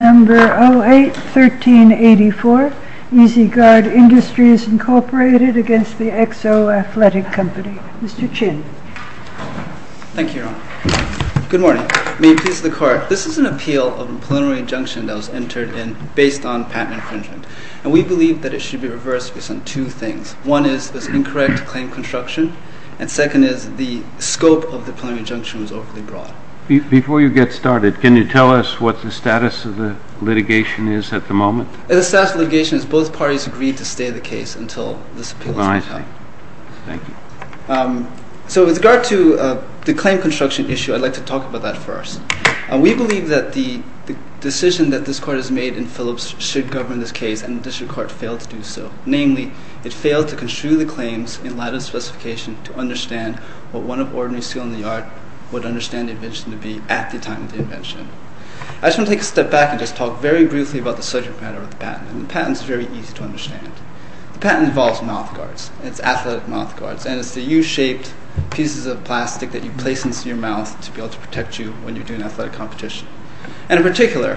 No. 08-1384, EZ Gard Industries, Inc. against the XO Athletic Company. Mr. Chin. Thank you, Your Honor. Good morning. May it please the Court. This is an appeal of a preliminary injunction that was entered in based on patent infringement, and we believe that it should be reversed based on two things. One is this incorrect claim construction, and second is the scope of the preliminary injunction was overly broad. Before you get started, can you tell us what the status of the litigation is at the moment? The status of the litigation is both parties agreed to stay the case until this appeal is resolved. I see. Thank you. So with regard to the claim construction issue, I'd like to talk about that first. We believe that the decision that this Court has made in Phillips should govern this case, and the District Court failed to do so. Namely, it failed to construe the claims in light of the specification to understand what one of ordinary skill in the art would understand the invention to be at the time of the invention. I just want to take a step back and just talk very briefly about the subject matter of the patent, and the patent is very easy to understand. The patent involves mouthguards. It's athletic mouthguards, and it's the U-shaped pieces of plastic that you place into your mouth to be able to protect you when you're doing athletic competition. And in particular,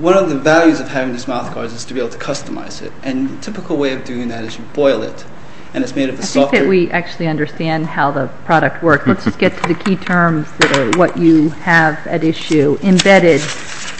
one of the values of having these mouthguards is to be able to customize it, and the typical way of doing that is you boil it, and it's made of a softer Now that we actually understand how the product works, let's just get to the key terms that are what you have at issue. Embedded.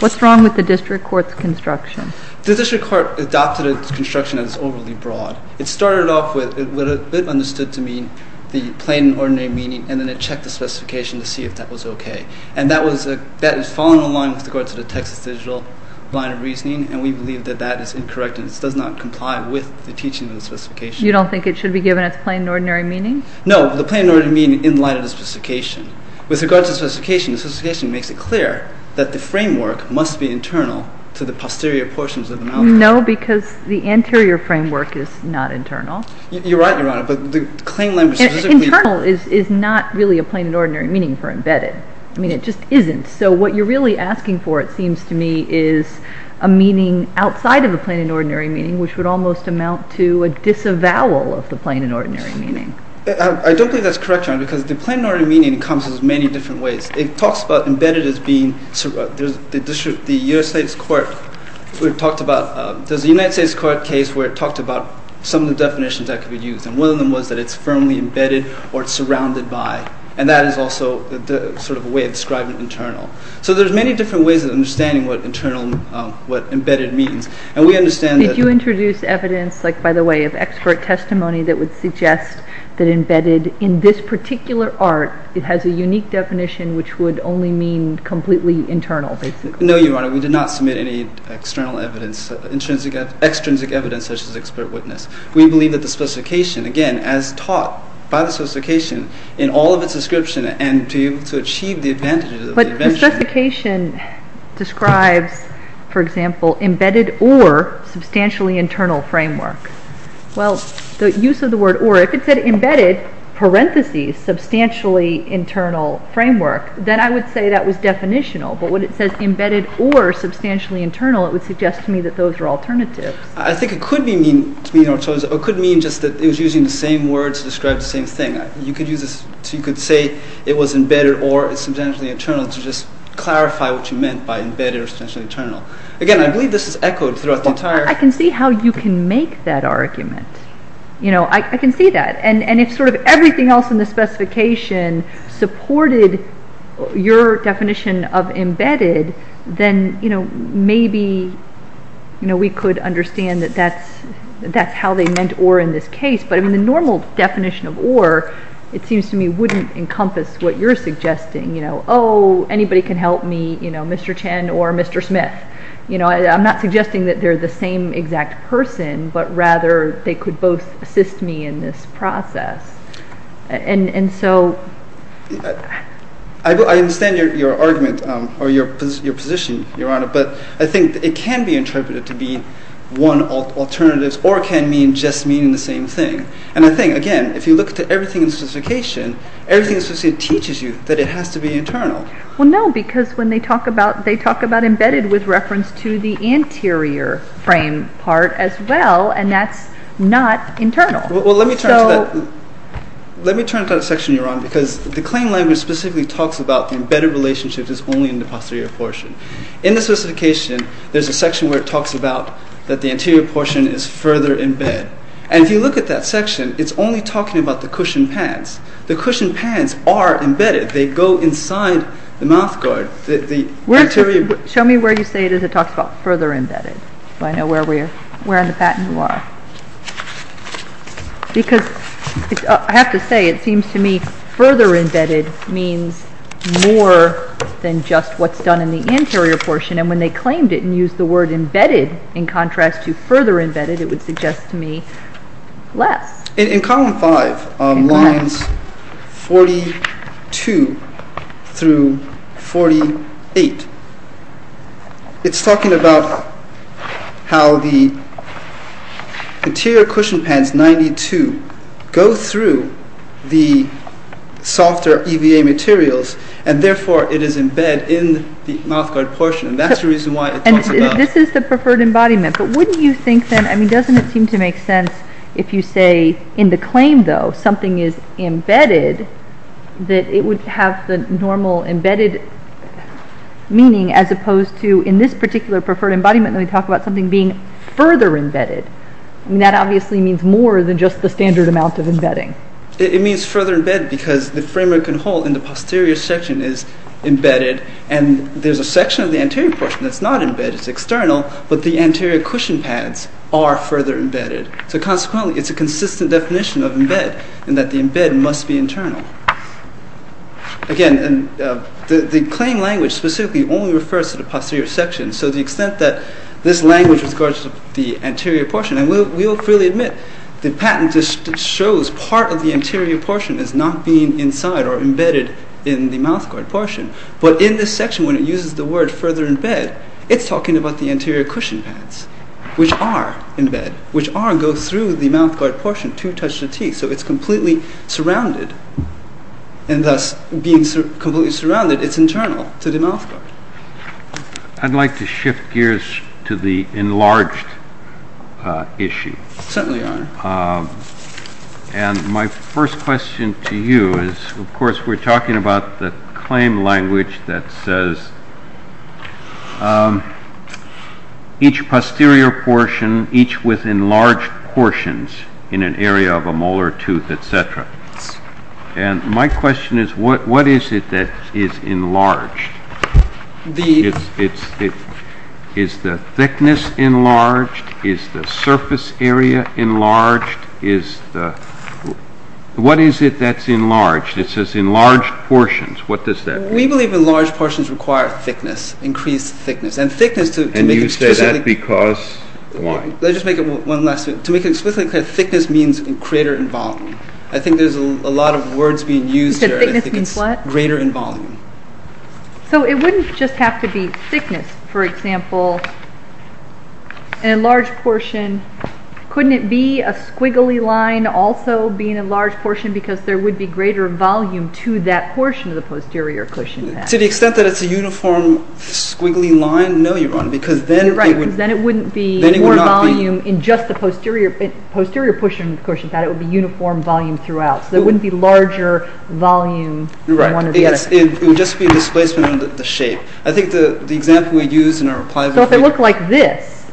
What's wrong with the District Court's construction? The District Court adopted a construction that is overly broad. It started off with what it understood to mean the plain and ordinary meaning, and then it checked the specification to see if that was okay. And that has fallen in line with regard to the Texas digital line of reasoning, and we believe that that is incorrect, and it does not comply with the teaching of the specification. You don't think it should be given its plain and ordinary meaning? No, the plain and ordinary meaning in light of the specification. With regard to the specification, the specification makes it clear that the framework must be internal to the posterior portions of the mouthguard. No, because the anterior framework is not internal. You're right, Your Honor, but the claim language specifically Internal is not really a plain and ordinary meaning for embedded. I mean, it just isn't. So what you're really asking for, it seems to me, is a meaning outside of a plain and ordinary meaning, which would almost amount to a disavowal of the plain and ordinary meaning. I don't believe that's correct, Your Honor, because the plain and ordinary meaning comes in many different ways. It talks about embedded as being, the United States Court talked about, there's a United States Court case where it talked about some of the definitions that could be used, and one of them was that it's firmly embedded or it's surrounded by, and that is also sort of a way of describing internal. So there's many different ways of understanding what embedded means, and we understand that Would you introduce evidence, like, by the way, of expert testimony that would suggest that embedded in this particular art, it has a unique definition, which would only mean completely internal, basically? No, Your Honor, we did not submit any external evidence, extrinsic evidence such as expert witness. We believe that the specification, again, as taught by the specification, in all of its description and to be able to achieve the advantages of the invention The specification describes, for example, embedded or substantially internal framework. Well, the use of the word or, if it said embedded, parentheses, substantially internal framework, then I would say that was definitional, but when it says embedded or substantially internal, it would suggest to me that those are alternatives. I think it could mean just that it was using the same word to describe the same thing. You could use this, so you could say it was embedded or substantially internal to just clarify what you meant by embedded or substantially internal. Again, I believe this is echoed throughout the entire Well, I can see how you can make that argument. You know, I can see that. And if sort of everything else in the specification supported your definition of embedded, then, you know, maybe, you know, we could understand that that's how they meant or in this case. But I mean the normal definition of or, it seems to me, wouldn't encompass what you're suggesting. You know, oh, anybody can help me, you know, Mr. Chen or Mr. Smith. You know, I'm not suggesting that they're the same exact person, but rather they could both assist me in this process. And so I understand your argument or your position, Your Honor, but I think it can be interpreted to be one of alternatives or can mean just meaning the same thing. And I think, again, if you look at everything in the specification, everything in the specification teaches you that it has to be internal. Well, no, because when they talk about, they talk about embedded with reference to the anterior frame part as well, and that's not internal. Well, let me turn to that, let me turn to that section, Your Honor, because the claim language specifically talks about the embedded relationship is only in the posterior portion. In the specification, there's a section where it talks about that the anterior portion is further embedded. And if you look at that section, it's only talking about the cushion pads. The cushion pads are embedded. They go inside the mouth guard. Show me where you say it is it talks about further embedded. So I know where we are, where in the patent you are. Because I have to say it seems to me further embedded means more than just what's done in the anterior portion. And when they claimed it and used the word embedded in contrast to further embedded, it would suggest to me less. In column 5, lines 42 through 48, it's talking about how the anterior cushion pads, 92, go through the softer EVA materials, and therefore it is embedded in the mouth guard portion, and that's the reason why it talks about. This is the preferred embodiment. But wouldn't you think then, I mean, doesn't it seem to make sense if you say in the claim, though, something is embedded that it would have the normal embedded meaning as opposed to in this particular preferred embodiment when we talk about something being further embedded. I mean, that obviously means more than just the standard amount of embedding. It means further embedded because the framework and hole in the posterior section is embedded, and there's a section of the anterior portion that's not embedded, it's external, but the anterior cushion pads are further embedded. So consequently, it's a consistent definition of embed in that the embed must be internal. Again, the claim language specifically only refers to the posterior section, so the extent that this language regards the anterior portion, and we'll freely admit, the patent just shows part of the anterior portion as not being inside or embedded in the mouth guard portion. But in this section, when it uses the word further embed, it's talking about the anterior cushion pads, which are embed, which are go through the mouth guard portion to touch the teeth, so it's completely surrounded. And thus, being completely surrounded, it's internal to the mouth guard. I'd like to shift gears to the enlarged issue. Certainly, Your Honor. And my first question to you is, of course, we're talking about the claim language that says, each posterior portion, each with enlarged portions in an area of a molar tooth, etc. And my question is, what is it that is enlarged? Is the thickness enlarged? Is the surface area enlarged? What is it that's enlarged? It says enlarged portions. What does that mean? We believe enlarged portions require thickness, increased thickness. And you say that because why? Let me just make it one last thing. To make it explicitly clear, thickness means greater in volume. I think there's a lot of words being used here. Thickness means what? Greater in volume. So it wouldn't just have to be thickness, for example, an enlarged portion. Couldn't it be a squiggly line also being an enlarged portion because there would be greater volume to that portion of the posterior cushion pad? To the extent that it's a uniform squiggly line, no, Your Honor. Right, because then it wouldn't be more volume in just the posterior cushion pad. It would be uniform volume throughout. So there wouldn't be larger volume in one or the other. Right, it would just be a displacement of the shape. I think the example we used in our replies would be— So if it looked like this,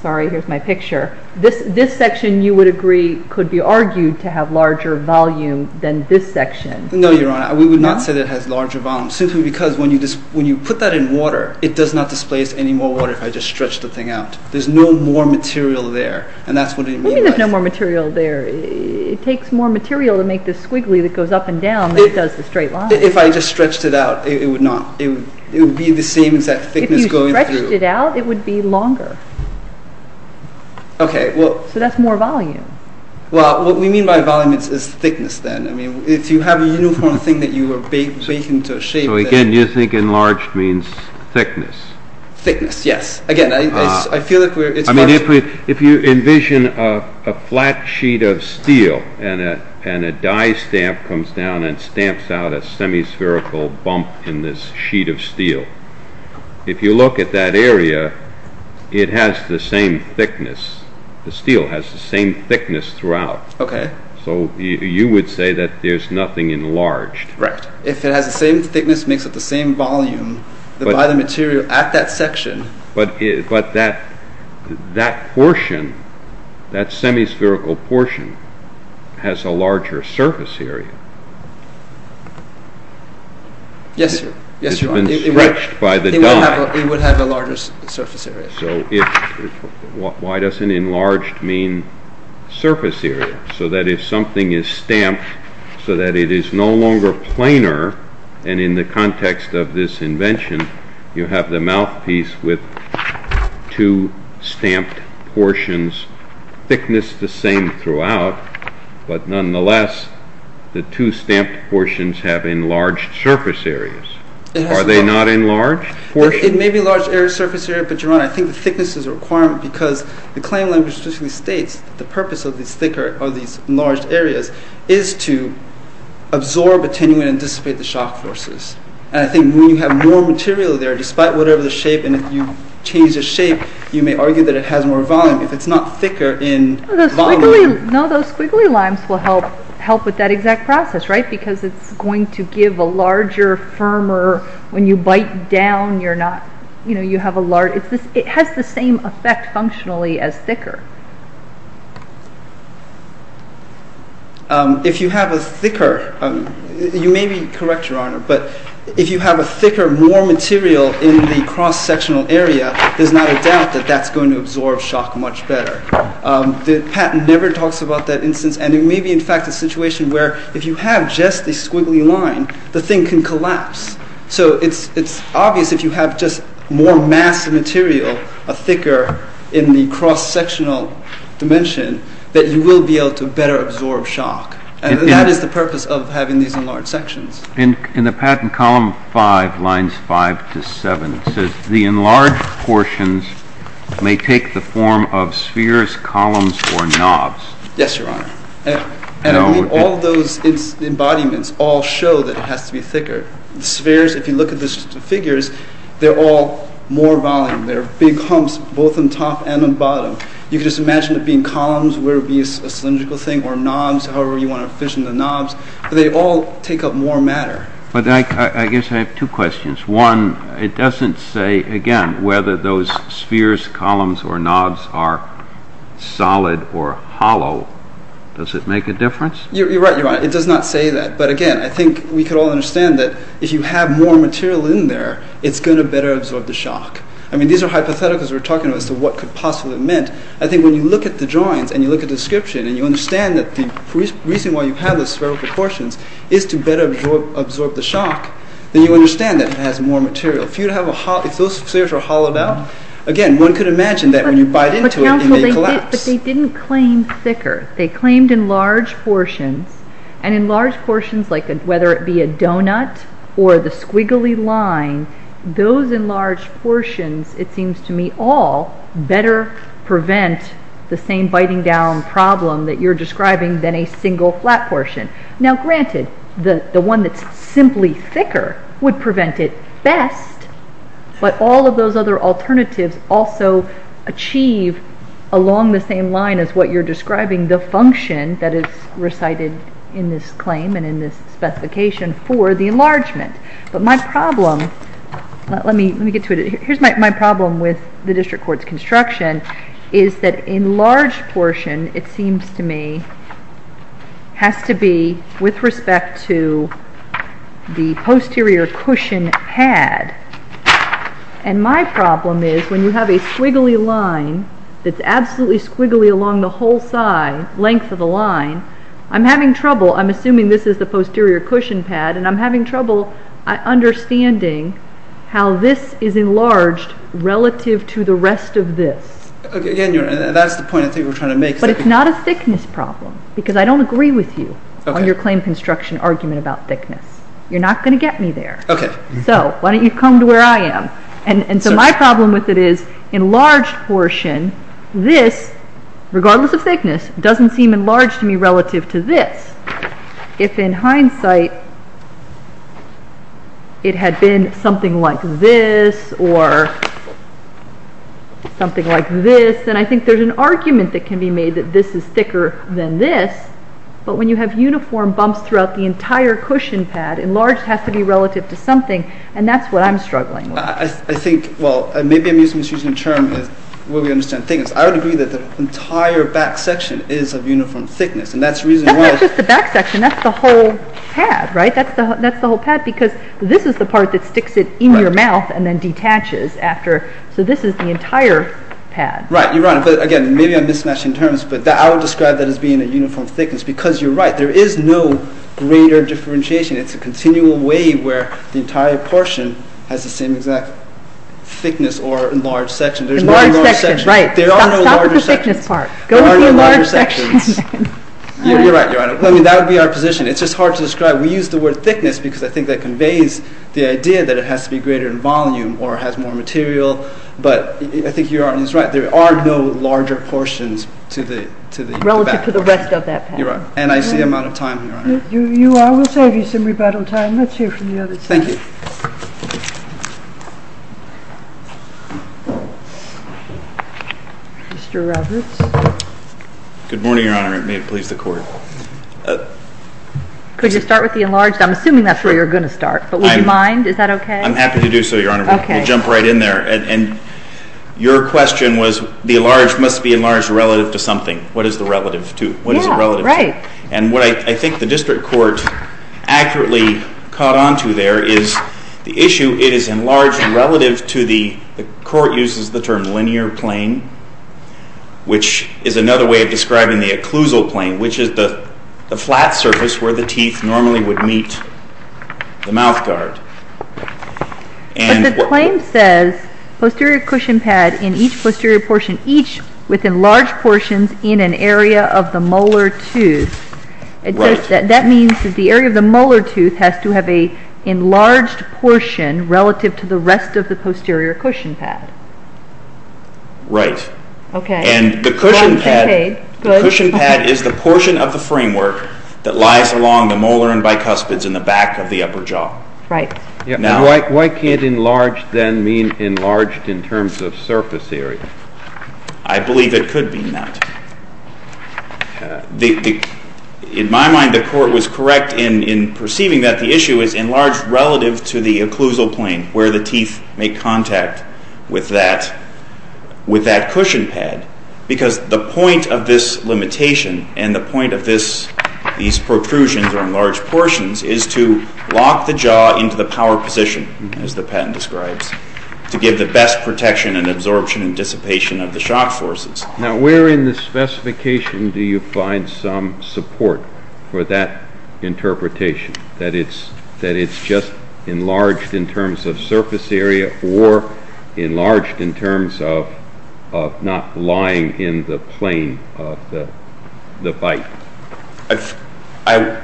sorry, here's my picture, this section you would agree could be argued to have larger volume than this section. No, Your Honor, we would not say that it has larger volume simply because when you put that in water, it does not displace any more water if I just stretch the thing out. There's no more material there, and that's what it means. What do you mean there's no more material there? It takes more material to make this squiggly that goes up and down than it does the straight line. If I just stretched it out, it would not. It would be the same exact thickness going through. If you stretched it out, it would be longer. Okay, well— So that's more volume. Well, what we mean by volume is thickness then. I mean, if you have a uniform thing that you are baking to a shape— So again, you think enlarged means thickness. Thickness, yes. Again, I feel like we're— If you envision a flat sheet of steel and a die stamp comes down and stamps out a semispherical bump in this sheet of steel, if you look at that area, it has the same thickness. The steel has the same thickness throughout. Okay. So you would say that there's nothing enlarged. Right. If it has the same thickness, makes up the same volume, divide the material at that section— But that portion, that semispherical portion, has a larger surface area. Yes, sir. It's been stretched by the die. It would have a larger surface area. Why doesn't enlarged mean surface area? So that if something is stamped so that it is no longer planar, and in the context of this invention, you have the mouthpiece with two stamped portions, thickness the same throughout, but nonetheless, the two stamped portions have enlarged surface areas. Are they not enlarged? It may be enlarged surface area, but your Honor, I think the thickness is a requirement because the claim language basically states that the purpose of these enlarged areas is to absorb attenuant and dissipate the shock forces. And I think when you have more material there, despite whatever the shape, and if you change the shape, you may argue that it has more volume. If it's not thicker in volume— No, those squiggly limes will help with that exact process, right? Because it's going to give a larger, firmer— when you bite down, you're not— you know, you have a large— it has the same effect functionally as thicker. If you have a thicker— you may be correct, Your Honor, but if you have a thicker, more material in the cross-sectional area, there's not a doubt that that's going to absorb shock much better. The patent never talks about that instance, and it may be, in fact, a situation where if you have just the squiggly lime, the thing can collapse. So it's obvious if you have just more mass of material, a thicker in the cross-sectional dimension, that you will be able to better absorb shock. And that is the purpose of having these enlarged sections. In the patent column 5, lines 5 to 7, it says, the enlarged portions may take the form of spheres, columns, or knobs. Yes, Your Honor. And all those embodiments all show that it has to be thicker. Spheres, if you look at the figures, they're all more volume. They're big humps, both on top and on bottom. You can just imagine it being columns, whether it be a cylindrical thing, or knobs, however you want to envision the knobs. They all take up more matter. But I guess I have two questions. One, it doesn't say, again, whether those spheres, columns, or knobs are solid or hollow. Does it make a difference? You're right, Your Honor. It does not say that. But again, I think we could all understand that if you have more material in there, it's going to better absorb the shock. I mean, these are hypotheticals we're talking about as to what could possibly have meant. I think when you look at the drawings, and you look at the description, and you understand that the reason why you have the spherical portions is to better absorb the shock, then you understand that it has more material. If those spheres were hollowed out, again, one could imagine that when you bite into it, it may collapse. But they didn't claim thicker. They claimed enlarged portions. And enlarged portions, whether it be a donut or the squiggly line, those enlarged portions, it seems to me, all better prevent the same biting-down problem that you're describing than a single flat portion. Now, granted, the one that's simply thicker would prevent it best, but all of those other alternatives also achieve, along the same line as what you're describing, the function that is recited in this claim and in this specification for the enlargement. But my problem, let me get to it. Here's my problem with the district court's construction, is that enlarged portion, it seems to me, has to be with respect to the posterior cushion pad. And my problem is when you have a squiggly line that's absolutely squiggly along the whole side, length of the line, I'm having trouble. I'm assuming this is the posterior cushion pad, and I'm having trouble understanding how this is enlarged relative to the rest of this. Again, that's the point I think we're trying to make. But it's not a thickness problem, because I don't agree with you on your claim construction argument about thickness. You're not going to get me there. So why don't you come to where I am? And so my problem with it is enlarged portion, this, regardless of thickness, doesn't seem enlarged to me relative to this. If in hindsight it had been something like this, or something like this, then I think there's an argument that can be made that this is thicker than this. But when you have uniform bumps throughout the entire cushion pad, enlarged has to be relative to something, and that's what I'm struggling with. I think, well, maybe I'm misusing the term, where we understand thickness. I would agree that the entire back section is of uniform thickness, and that's the reason why... That's not just the back section. That's the whole pad, right? That's the whole pad, because this is the part that sticks it in your mouth and then detaches after. So this is the entire pad. Right, you're right. But again, maybe I'm mismatching terms, but I would describe that as being a uniform thickness, because you're right. There is no greater differentiation. It's a continual wave where the entire portion has the same exact thickness or enlarged section. Enlarged section, right. Stop with the thickness part. Go with the enlarged section. You're right, Your Honor. That would be our position. It's just hard to describe. We use the word thickness because I think that conveys the idea that it has to be greater in volume or has more material, but I think Your Honor is right. There are no larger portions to the back. Relative to the rest of that pad. You're right. And I see I'm out of time, Your Honor. You are. We'll save you some rebuttal time. Let's hear from the other side. Thank you. Mr. Roberts. Good morning, Your Honor. May it please the Court. Could you start with the enlarged? I'm assuming that's where you're going to start, but would you mind? Is that okay? I'm happy to do so, Your Honor. Okay. We'll jump right in there. And your question was the enlarged must be enlarged relative to something. What is the relative to? Yeah, right. And what I think the district court accurately caught onto there is the enlarged The issue, it is enlarged relative to the court uses the term linear plane, which is another way of describing the occlusal plane, which is the flat surface where the teeth normally would meet the mouth guard. But the claim says posterior cushion pad in each posterior portion, each with enlarged portions in an area of the molar tooth. Right. That means that the area of the molar tooth has to have an enlarged portion relative to the rest of the posterior cushion pad. Right. Okay. And the cushion pad is the portion of the framework that lies along the molar and bicuspids in the back of the upper jaw. Right. Why can't enlarged then mean enlarged in terms of surface area? I believe it could mean that. In my mind, the court was correct in perceiving that the issue is enlarged relative to the occlusal plane where the teeth make contact with that cushion pad because the point of this limitation and the point of these protrusions or enlarged portions is to lock the jaw into the power position, as the patent describes, to give the best protection and absorption and dissipation of the shock forces. Now, where in the specification do you find some support for that interpretation, that it's just enlarged in terms of surface area or enlarged in terms of not lying in the plane of the bite? I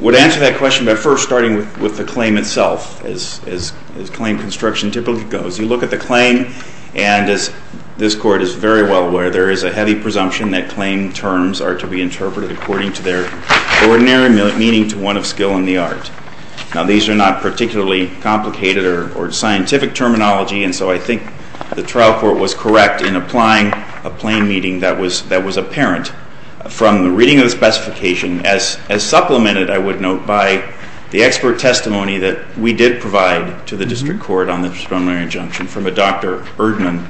would answer that question by first starting with the claim itself, as claim construction typically goes. You look at the claim, and as this Court is very well aware, there is a heavy presumption that claim terms are to be interpreted according to their ordinary meaning to one of skill and the art. Now, these are not particularly complicated or scientific terminology, and so I think the trial court was correct in applying a plane meaning that was apparent from the reading of the specification as supplemented, I would note, by the expert testimony that we did provide to the district court on the preliminary injunction from a Dr. Erdmann,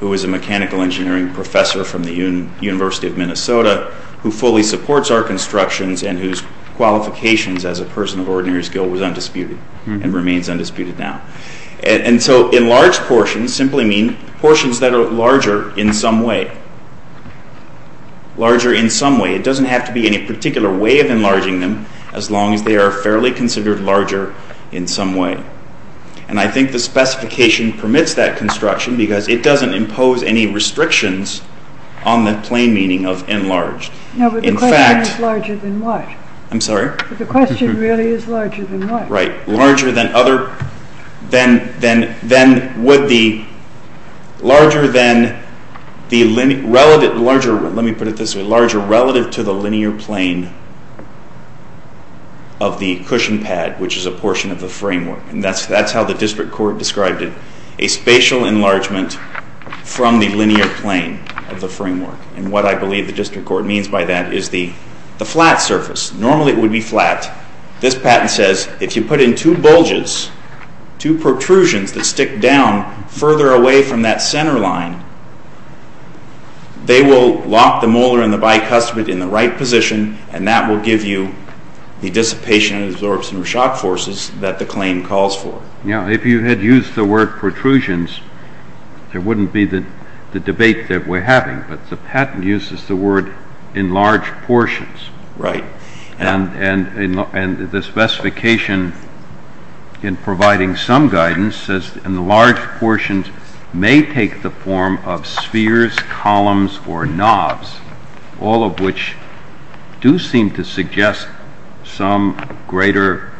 who is a mechanical engineering professor from the University of Minnesota, who fully supports our constructions and whose qualifications as a person of ordinary skill was undisputed and remains undisputed now. And so enlarged portions simply mean portions that are larger in some way. Larger in some way. It doesn't have to be in a particular way of enlarging them, as long as they are fairly considered larger in some way. And I think the specification permits that construction because it doesn't impose any restrictions on the plane meaning of enlarged. In fact... No, but the question is larger than what? I'm sorry? But the question really is larger than what? Right. Larger than other... than would the... Larger than the... Let me put it this way. Larger relative to the linear plane of the cushion pad, which is a portion of the framework. And that's how the district court described it. A spatial enlargement from the linear plane of the framework. And what I believe the district court means by that is the flat surface. Normally it would be flat. This patent says if you put in two bulges, two protrusions that stick down further away from that center line, they will lock the molar and the bicuspid in the right position and that will give you the dissipation and absorption of shock forces that the claim calls for. Now, if you had used the word protrusions, there wouldn't be the debate that we're having, but the patent uses the word enlarged portions. Right. And the specification in providing some guidance says enlarged portions may take the form of spheres, columns, or knobs, all of which do seem to suggest some greater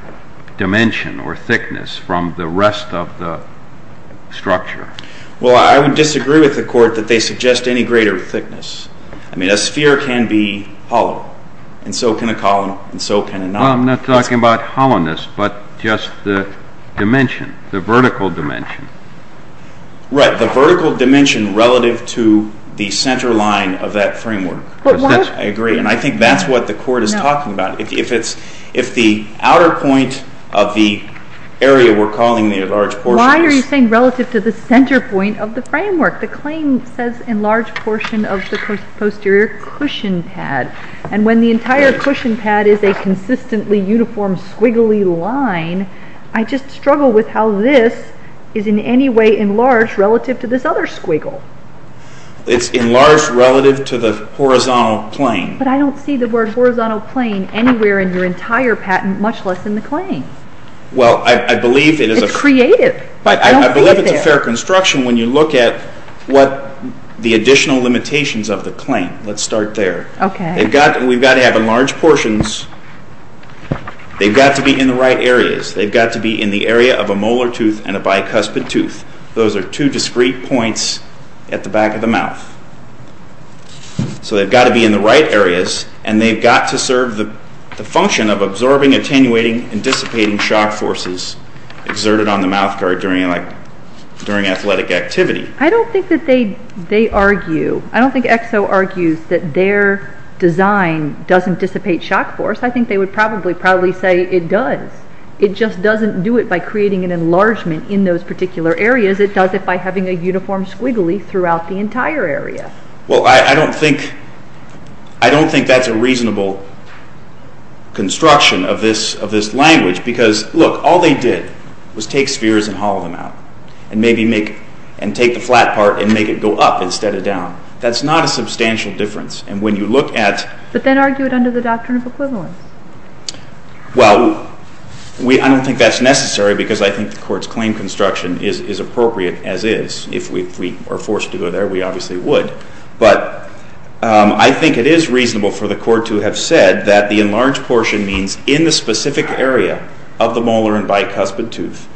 dimension or thickness from the rest of the structure. Well, I would disagree with the court that they suggest any greater thickness. I mean, a sphere can be hollow, and so can a column, and so can a knob. Well, I'm not talking about hollowness, but just the dimension, the vertical dimension. Right, the vertical dimension relative to the center line of that framework. I agree, and I think that's what the court is talking about. If the outer point of the area we're calling the enlarged portion is... Why are you saying relative to the center point of the framework? The claim says enlarged portion of the posterior cushion pad, and when the entire cushion pad is a consistently uniform squiggly line, I just struggle with how this is in any way enlarged relative to this other squiggle. It's enlarged relative to the horizontal plane. But I don't see the word horizontal plane anywhere in your entire patent, much less in the claim. Well, I believe it is... It's creative. I don't see it there. But I believe it's a fair construction when you look at the additional limitations of the claim. Let's start there. We've got to have enlarged portions. They've got to be in the right areas. They've got to be in the area of a molar tooth and a bicuspid tooth. Those are two discrete points at the back of the mouth. So they've got to be in the right areas, and they've got to serve the function of absorbing, attenuating, and dissipating shock forces exerted on the mouth guard during athletic activity. I don't think that they argue... I don't think EXO argues that their design doesn't dissipate shock force. I think they would probably say it does. It just doesn't do it by creating an enlargement in those particular areas. It does it by having a uniform squiggly throughout the entire area. Well, I don't think... I don't think that's a reasonable construction of this language because, look, all they did was take spheres and hollow them out and maybe make...and take the flat part and make it go up instead of down. That's not a substantial difference. And when you look at... But then argue it under the doctrine of equivalence. Well, I don't think that's necessary because I think the Court's claim construction is appropriate as is. If we are forced to go there, we obviously would. But I think it is reasonable for the Court to have said that the enlarged portion means in the specific area of the molar and bicuspid tooth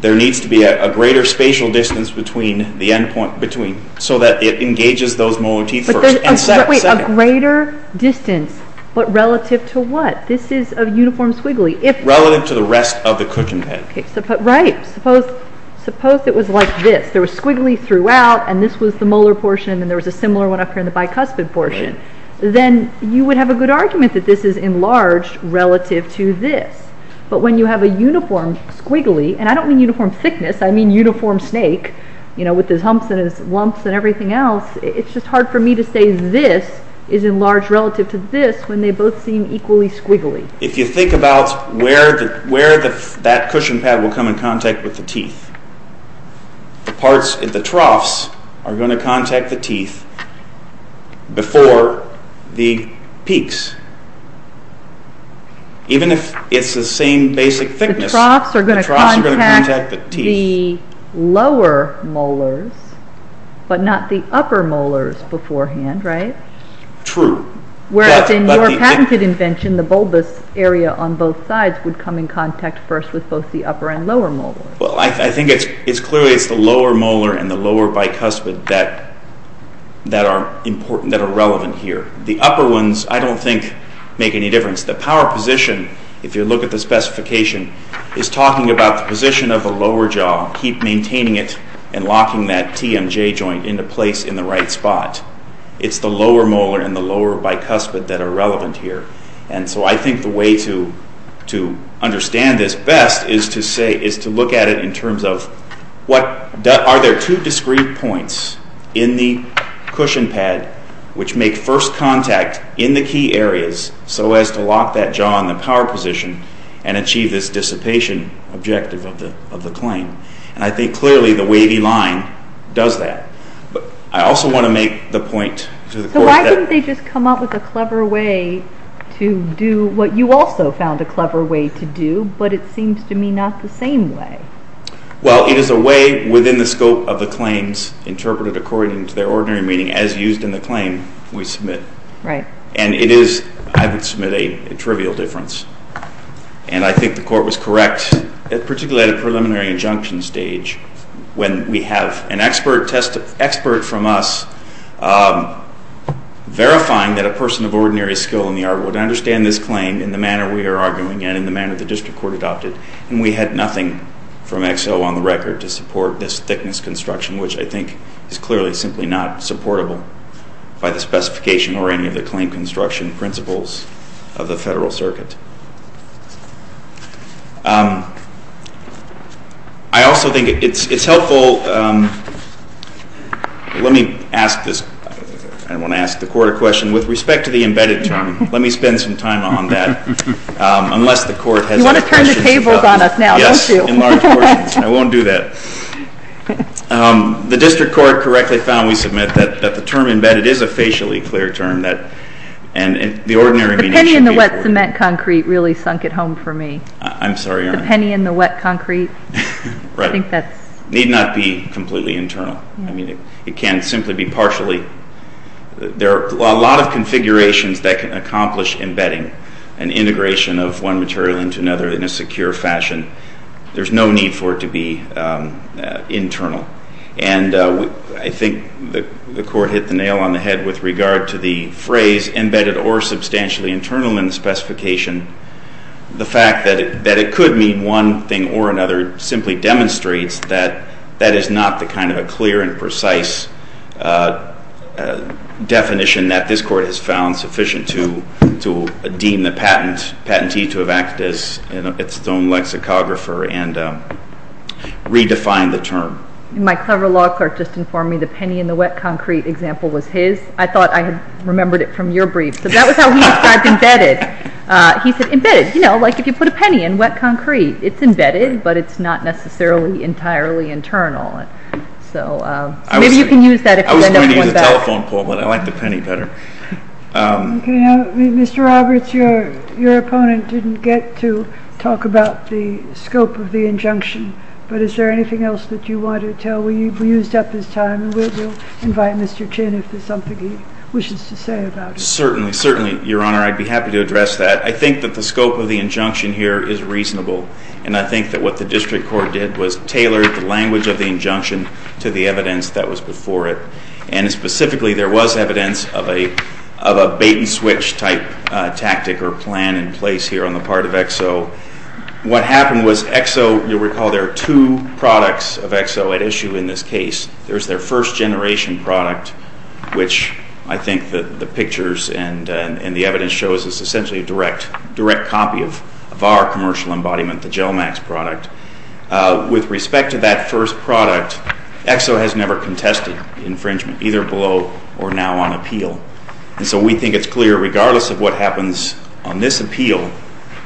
there needs to be a greater spatial distance between the end point... so that it engages those molar teeth first. But there's a greater distance, but relative to what? This is a uniform squiggly. Relative to the rest of the cooking pen. Right. Suppose it was like this. There was squiggly throughout, and this was the molar portion, and there was a similar one up here in the bicuspid portion. Then you would have a good argument that this is enlarged relative to this. But when you have a uniform squiggly, and I don't mean uniform thickness, I mean uniform snake, with his humps and his lumps and everything else, it's just hard for me to say this is enlarged relative to this when they both seem equally squiggly. If you think about where that cushion pad will come in contact with the teeth, the troughs are going to contact the teeth before the peaks, even if it's the same basic thickness. The troughs are going to contact the lower molars, but not the upper molars beforehand, right? True. Whereas in your patented invention, the bulbous area on both sides would come in contact first with both the upper and lower molars. Well, I think it's clearly the lower molar and the lower bicuspid that are relevant here. The upper ones I don't think make any difference. The power position, if you look at the specification, is talking about the position of the lower jaw, keep maintaining it, and locking that TMJ joint into place in the right spot. It's the lower molar and the lower bicuspid that are relevant here. And so I think the way to understand this best is to look at it in terms of are there two discrete points in the cushion pad which make first contact in the key areas so as to lock that jaw in the power position and achieve this dissipation objective of the claim. And I think clearly the wavy line does that. But I also want to make the point to the court that... to do what you also found a clever way to do, but it seems to me not the same way. Well, it is a way within the scope of the claims interpreted according to their ordinary meaning as used in the claim we submit. Right. And it is, I would submit, a trivial difference. And I think the court was correct, particularly at a preliminary injunction stage, when we have an expert from us verifying that a person of ordinary skill in the art would understand this claim in the manner we are arguing and in the manner the district court adopted. And we had nothing from XO on the record to support this thickness construction, which I think is clearly simply not supportable by the specification or any of the claim construction principles of the Federal Circuit. I also think it's helpful... Let me ask this... I want to ask the court a question. With respect to the embedded term, let me spend some time on that, unless the court has other questions... You want to turn the tables on us now, don't you? Yes, in large portions. I won't do that. The district court correctly found, we submit, that the term embedded is a facially clear term, and the ordinary meaning should be... The penny in the wet cement concrete really sunk it home for me. I'm sorry, Your Honor. The penny in the wet concrete. Right. I think that's... Need not be completely internal. It can simply be partially. There are a lot of configurations that can accomplish embedding, an integration of one material into another in a secure fashion. There's no need for it to be internal. And I think the court hit the nail on the head with regard to the phrase embedded or substantially internal in the specification. The fact that it could mean one thing or another simply demonstrates that that is not the kind of a clear and precise definition that this court has found sufficient to deem the patentee to have acted as its own lexicographer and redefined the term. My clever law clerk just informed me the penny in the wet concrete example was his. I thought I had remembered it from your brief. So that was how he described embedded. He said embedded, you know, like if you put a penny in wet concrete, it's embedded, but it's not necessarily entirely internal. So maybe you can use that I was going to use a telephone pole, but I like the penny better. Okay. Mr. Roberts, your opponent didn't get to talk about the scope of the injunction, but is there anything else that you want to tell? We used up his time, and we'll invite Mr. Chin if there's something he wishes to say about it. Certainly, certainly, Your Honor. I'd be happy to address that. I think that the scope of the injunction here is reasonable, and I think that what the district court did was tailor the language of the injunction to the evidence that was before it. And specifically, there was evidence of a bait-and-switch type tactic or plan in place here on the part of EXO. What happened was EXO, you'll recall there are two products of EXO at issue in this case. There's their first generation product, which I think the pictures and the evidence shows is essentially a direct copy of our commercial embodiment, the GelMax product. With respect to that first product, EXO has never contested infringement, either below or now on appeal. And so we think it's clear, regardless of what happens on this appeal,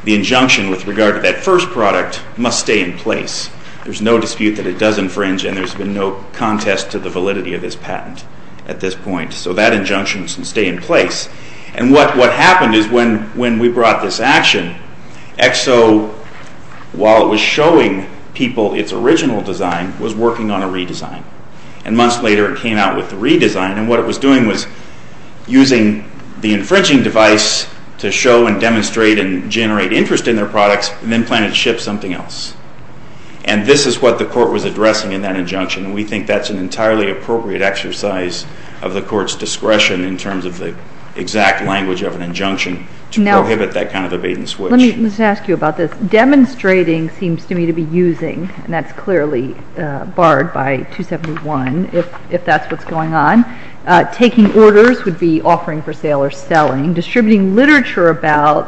the injunction with regard to that first product must stay in place. There's no dispute that it does infringe, and there's been no contest to the validity of this patent at this point. So that injunction can stay in place. And what happened is when we brought this action, EXO, while it was showing people its original design, was working on a redesign. And months later it came out with the redesign, and what it was doing was using the infringing device to show and demonstrate and generate interest in their products, and then plan to ship something else. And this is what the Court was addressing in that injunction, and we think that's an entirely appropriate exercise of the Court's discretion in terms of the exact language of an injunction to prohibit that kind of evasion switch. Let me just ask you about this. Demonstrating seems to me to be using, and that's clearly barred by 271, if that's what's going on. Taking orders would be offering for sale or selling. Distributing literature about,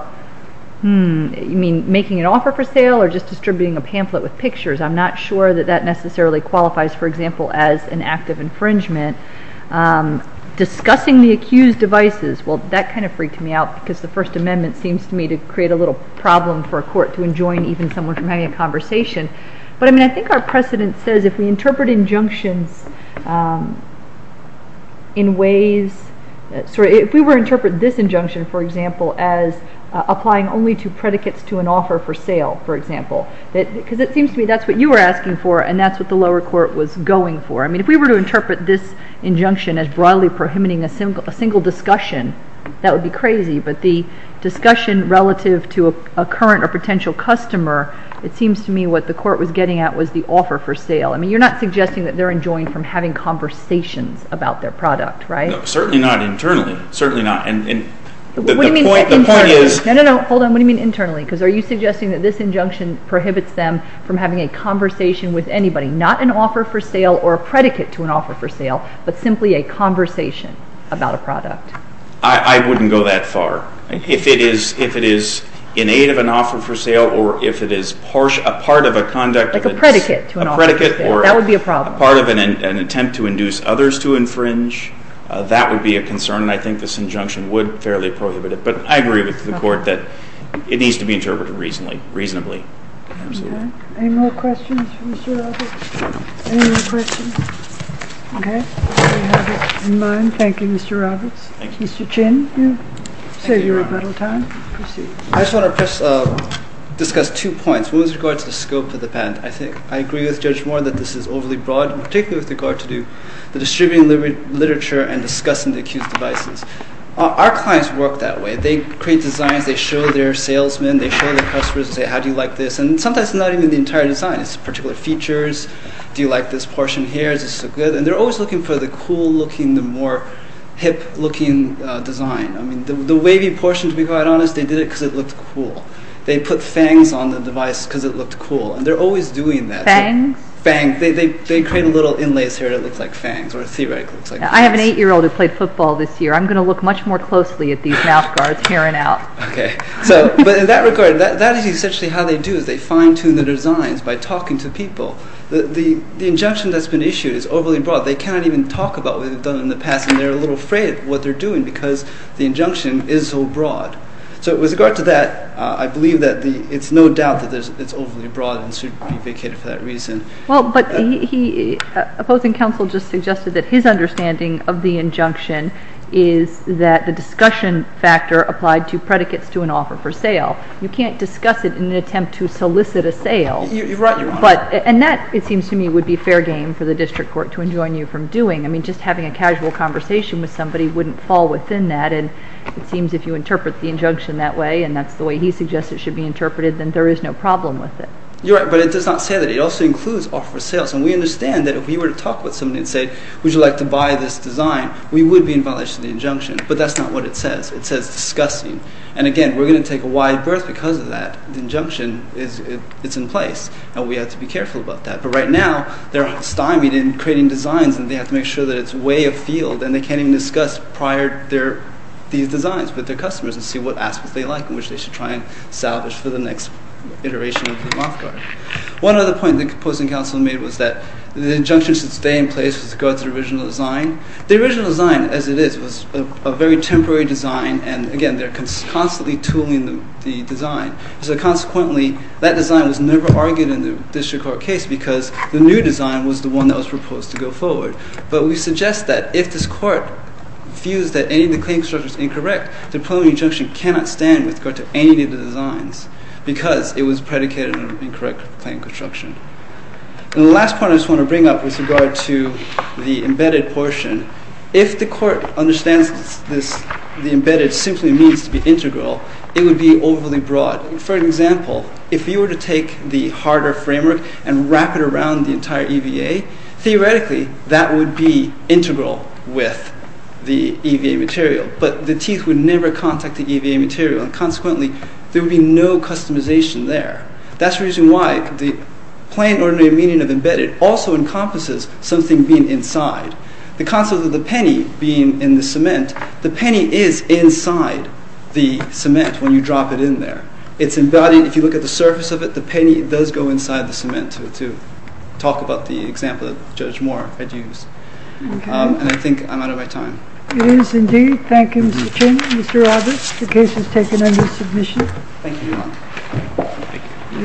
hmm, you mean making an offer for sale or just distributing a pamphlet with pictures? I'm not sure that that necessarily qualifies, for example, as an act of infringement. Discussing the accused devices, well, that kind of freaked me out because the First Amendment seems to me to create a little problem for a court to enjoin even someone from having a conversation. But, I mean, I think our precedent says if we interpret injunctions in ways... Sorry, if we were to interpret this injunction, for example, as applying only to predicates to an offer for sale, for example, because it seems to me that's what you were asking for and that's what the lower court was going for. I mean, if we were to interpret this injunction as broadly prohibiting a single discussion, that would be crazy. But the discussion relative to a current or potential customer, it seems to me what the court was getting at was the offer for sale. I mean, you're not suggesting that they're enjoined from having conversations about their product, right? No, certainly not internally. Certainly not. The point is... No, no, no. Hold on. What do you mean internally? Because are you suggesting that this injunction prohibits them from having a conversation with anybody, not an offer for sale or a predicate to an offer for sale, but simply a conversation about a product? I wouldn't go that far. If it is in aid of an offer for sale or if it is a part of a conduct of its... Like a predicate to an offer for sale. A predicate or... That would be a problem. ...a part of an attempt to induce others to infringe, that would be a concern, and I think this injunction would fairly prohibit it. But I agree with the court that it needs to be interpreted reasonably. Absolutely. Okay. Any more questions for Mr. Roberts? Any more questions? Okay. We have it in mind. Thank you, Mr. Roberts. Thank you. Mr. Chin. Thank you, Your Honor. Save your rebuttal time. Proceed. I just want to discuss two points. One is with regard to the scope of the patent. I agree with Judge Moore that this is overly broad, particularly with regard to the distributing literature and discussing the accused devices. Our clients work that way. They create designs. They show their salesmen. They show their customers and say, how do you like this? And sometimes it's not even the entire design. It's particular features. Do you like this portion here? Is this good? And they're always looking for the cool-looking, the more hip-looking design. I mean, the wavy portion, to be quite honest, they did it because it looked cool. They put fangs on the device because it looked cool, and they're always doing that. Fangs? Fangs. They create a little inlay here that looks like fangs, or theoretically looks like fangs. I have an 8-year-old who played football this year. I'm going to look much more closely at these mouth guards, hearing out. Okay. But in that regard, that is essentially how they do it. They fine-tune the designs by talking to people. The injunction that's been issued is overly broad. They cannot even talk about what they've done in the past, and they're a little afraid of what they're doing because the injunction is so broad. So with regard to that, I believe that it's no doubt that it's overly broad and should be vacated for that reason. Well, but the opposing counsel just suggested that his understanding of the injunction is that the discussion factor applied to predicates to an offer for sale. You can't discuss it in an attempt to solicit a sale. You're right. And that, it seems to me, would be fair game for the district court to enjoin you from doing. I mean, just having a casual conversation with somebody wouldn't fall within that, and it seems if you interpret the injunction that way, and that's the way he suggests it should be interpreted, then there is no problem with it. You're right, but it does not say that. It also includes offer for sales, and we understand that if we were to talk with somebody and say, would you like to buy this design, we would be in violation of the injunction, but that's not what it says. It says discussing, and again, we're going to take a wide berth because of that. The injunction, it's in place, and we have to be careful about that. But right now, they're stymied in creating designs, and they have to make sure that it's way afield, and they can't even discuss prior these designs with their customers and see what aspects they like and which they should try and salvage for the next iteration of the Moth Guard. One other point the opposing counsel made was that the injunction should stay in place to go through the original design. The original design, as it is, was a very temporary design, and again, they're constantly tooling the design. So consequently, that design was never argued in the district court case because the new design was the one that was proposed to go forward. But we suggest that if this court views that any of the claim structures are incorrect, the preliminary injunction cannot stand with regard to any of the designs because it was predicated on incorrect claim construction. And the last point I just want to bring up with regard to the embedded portion, if the court understands the embedded simply means to be integral, it would be overly broad. For example, if you were to take the harder framework and wrap it around the entire EVA, theoretically, that would be integral with the EVA material, but the teeth would never contact the EVA material, and consequently, there would be no customization there. That's the reason why the plain ordinary meaning of embedded also encompasses something being inside. The concept of the penny being in the cement, the penny is inside the cement when you drop it in there. It's embodied. If you look at the surface of it, the penny does go inside the cement. That's what I meant to talk about the example that Judge Moore had used. And I think I'm out of my time. It is indeed. Thank you, Mr. Chairman. Mr. Roberts, the case is taken under submission. Thank you, Your Honor.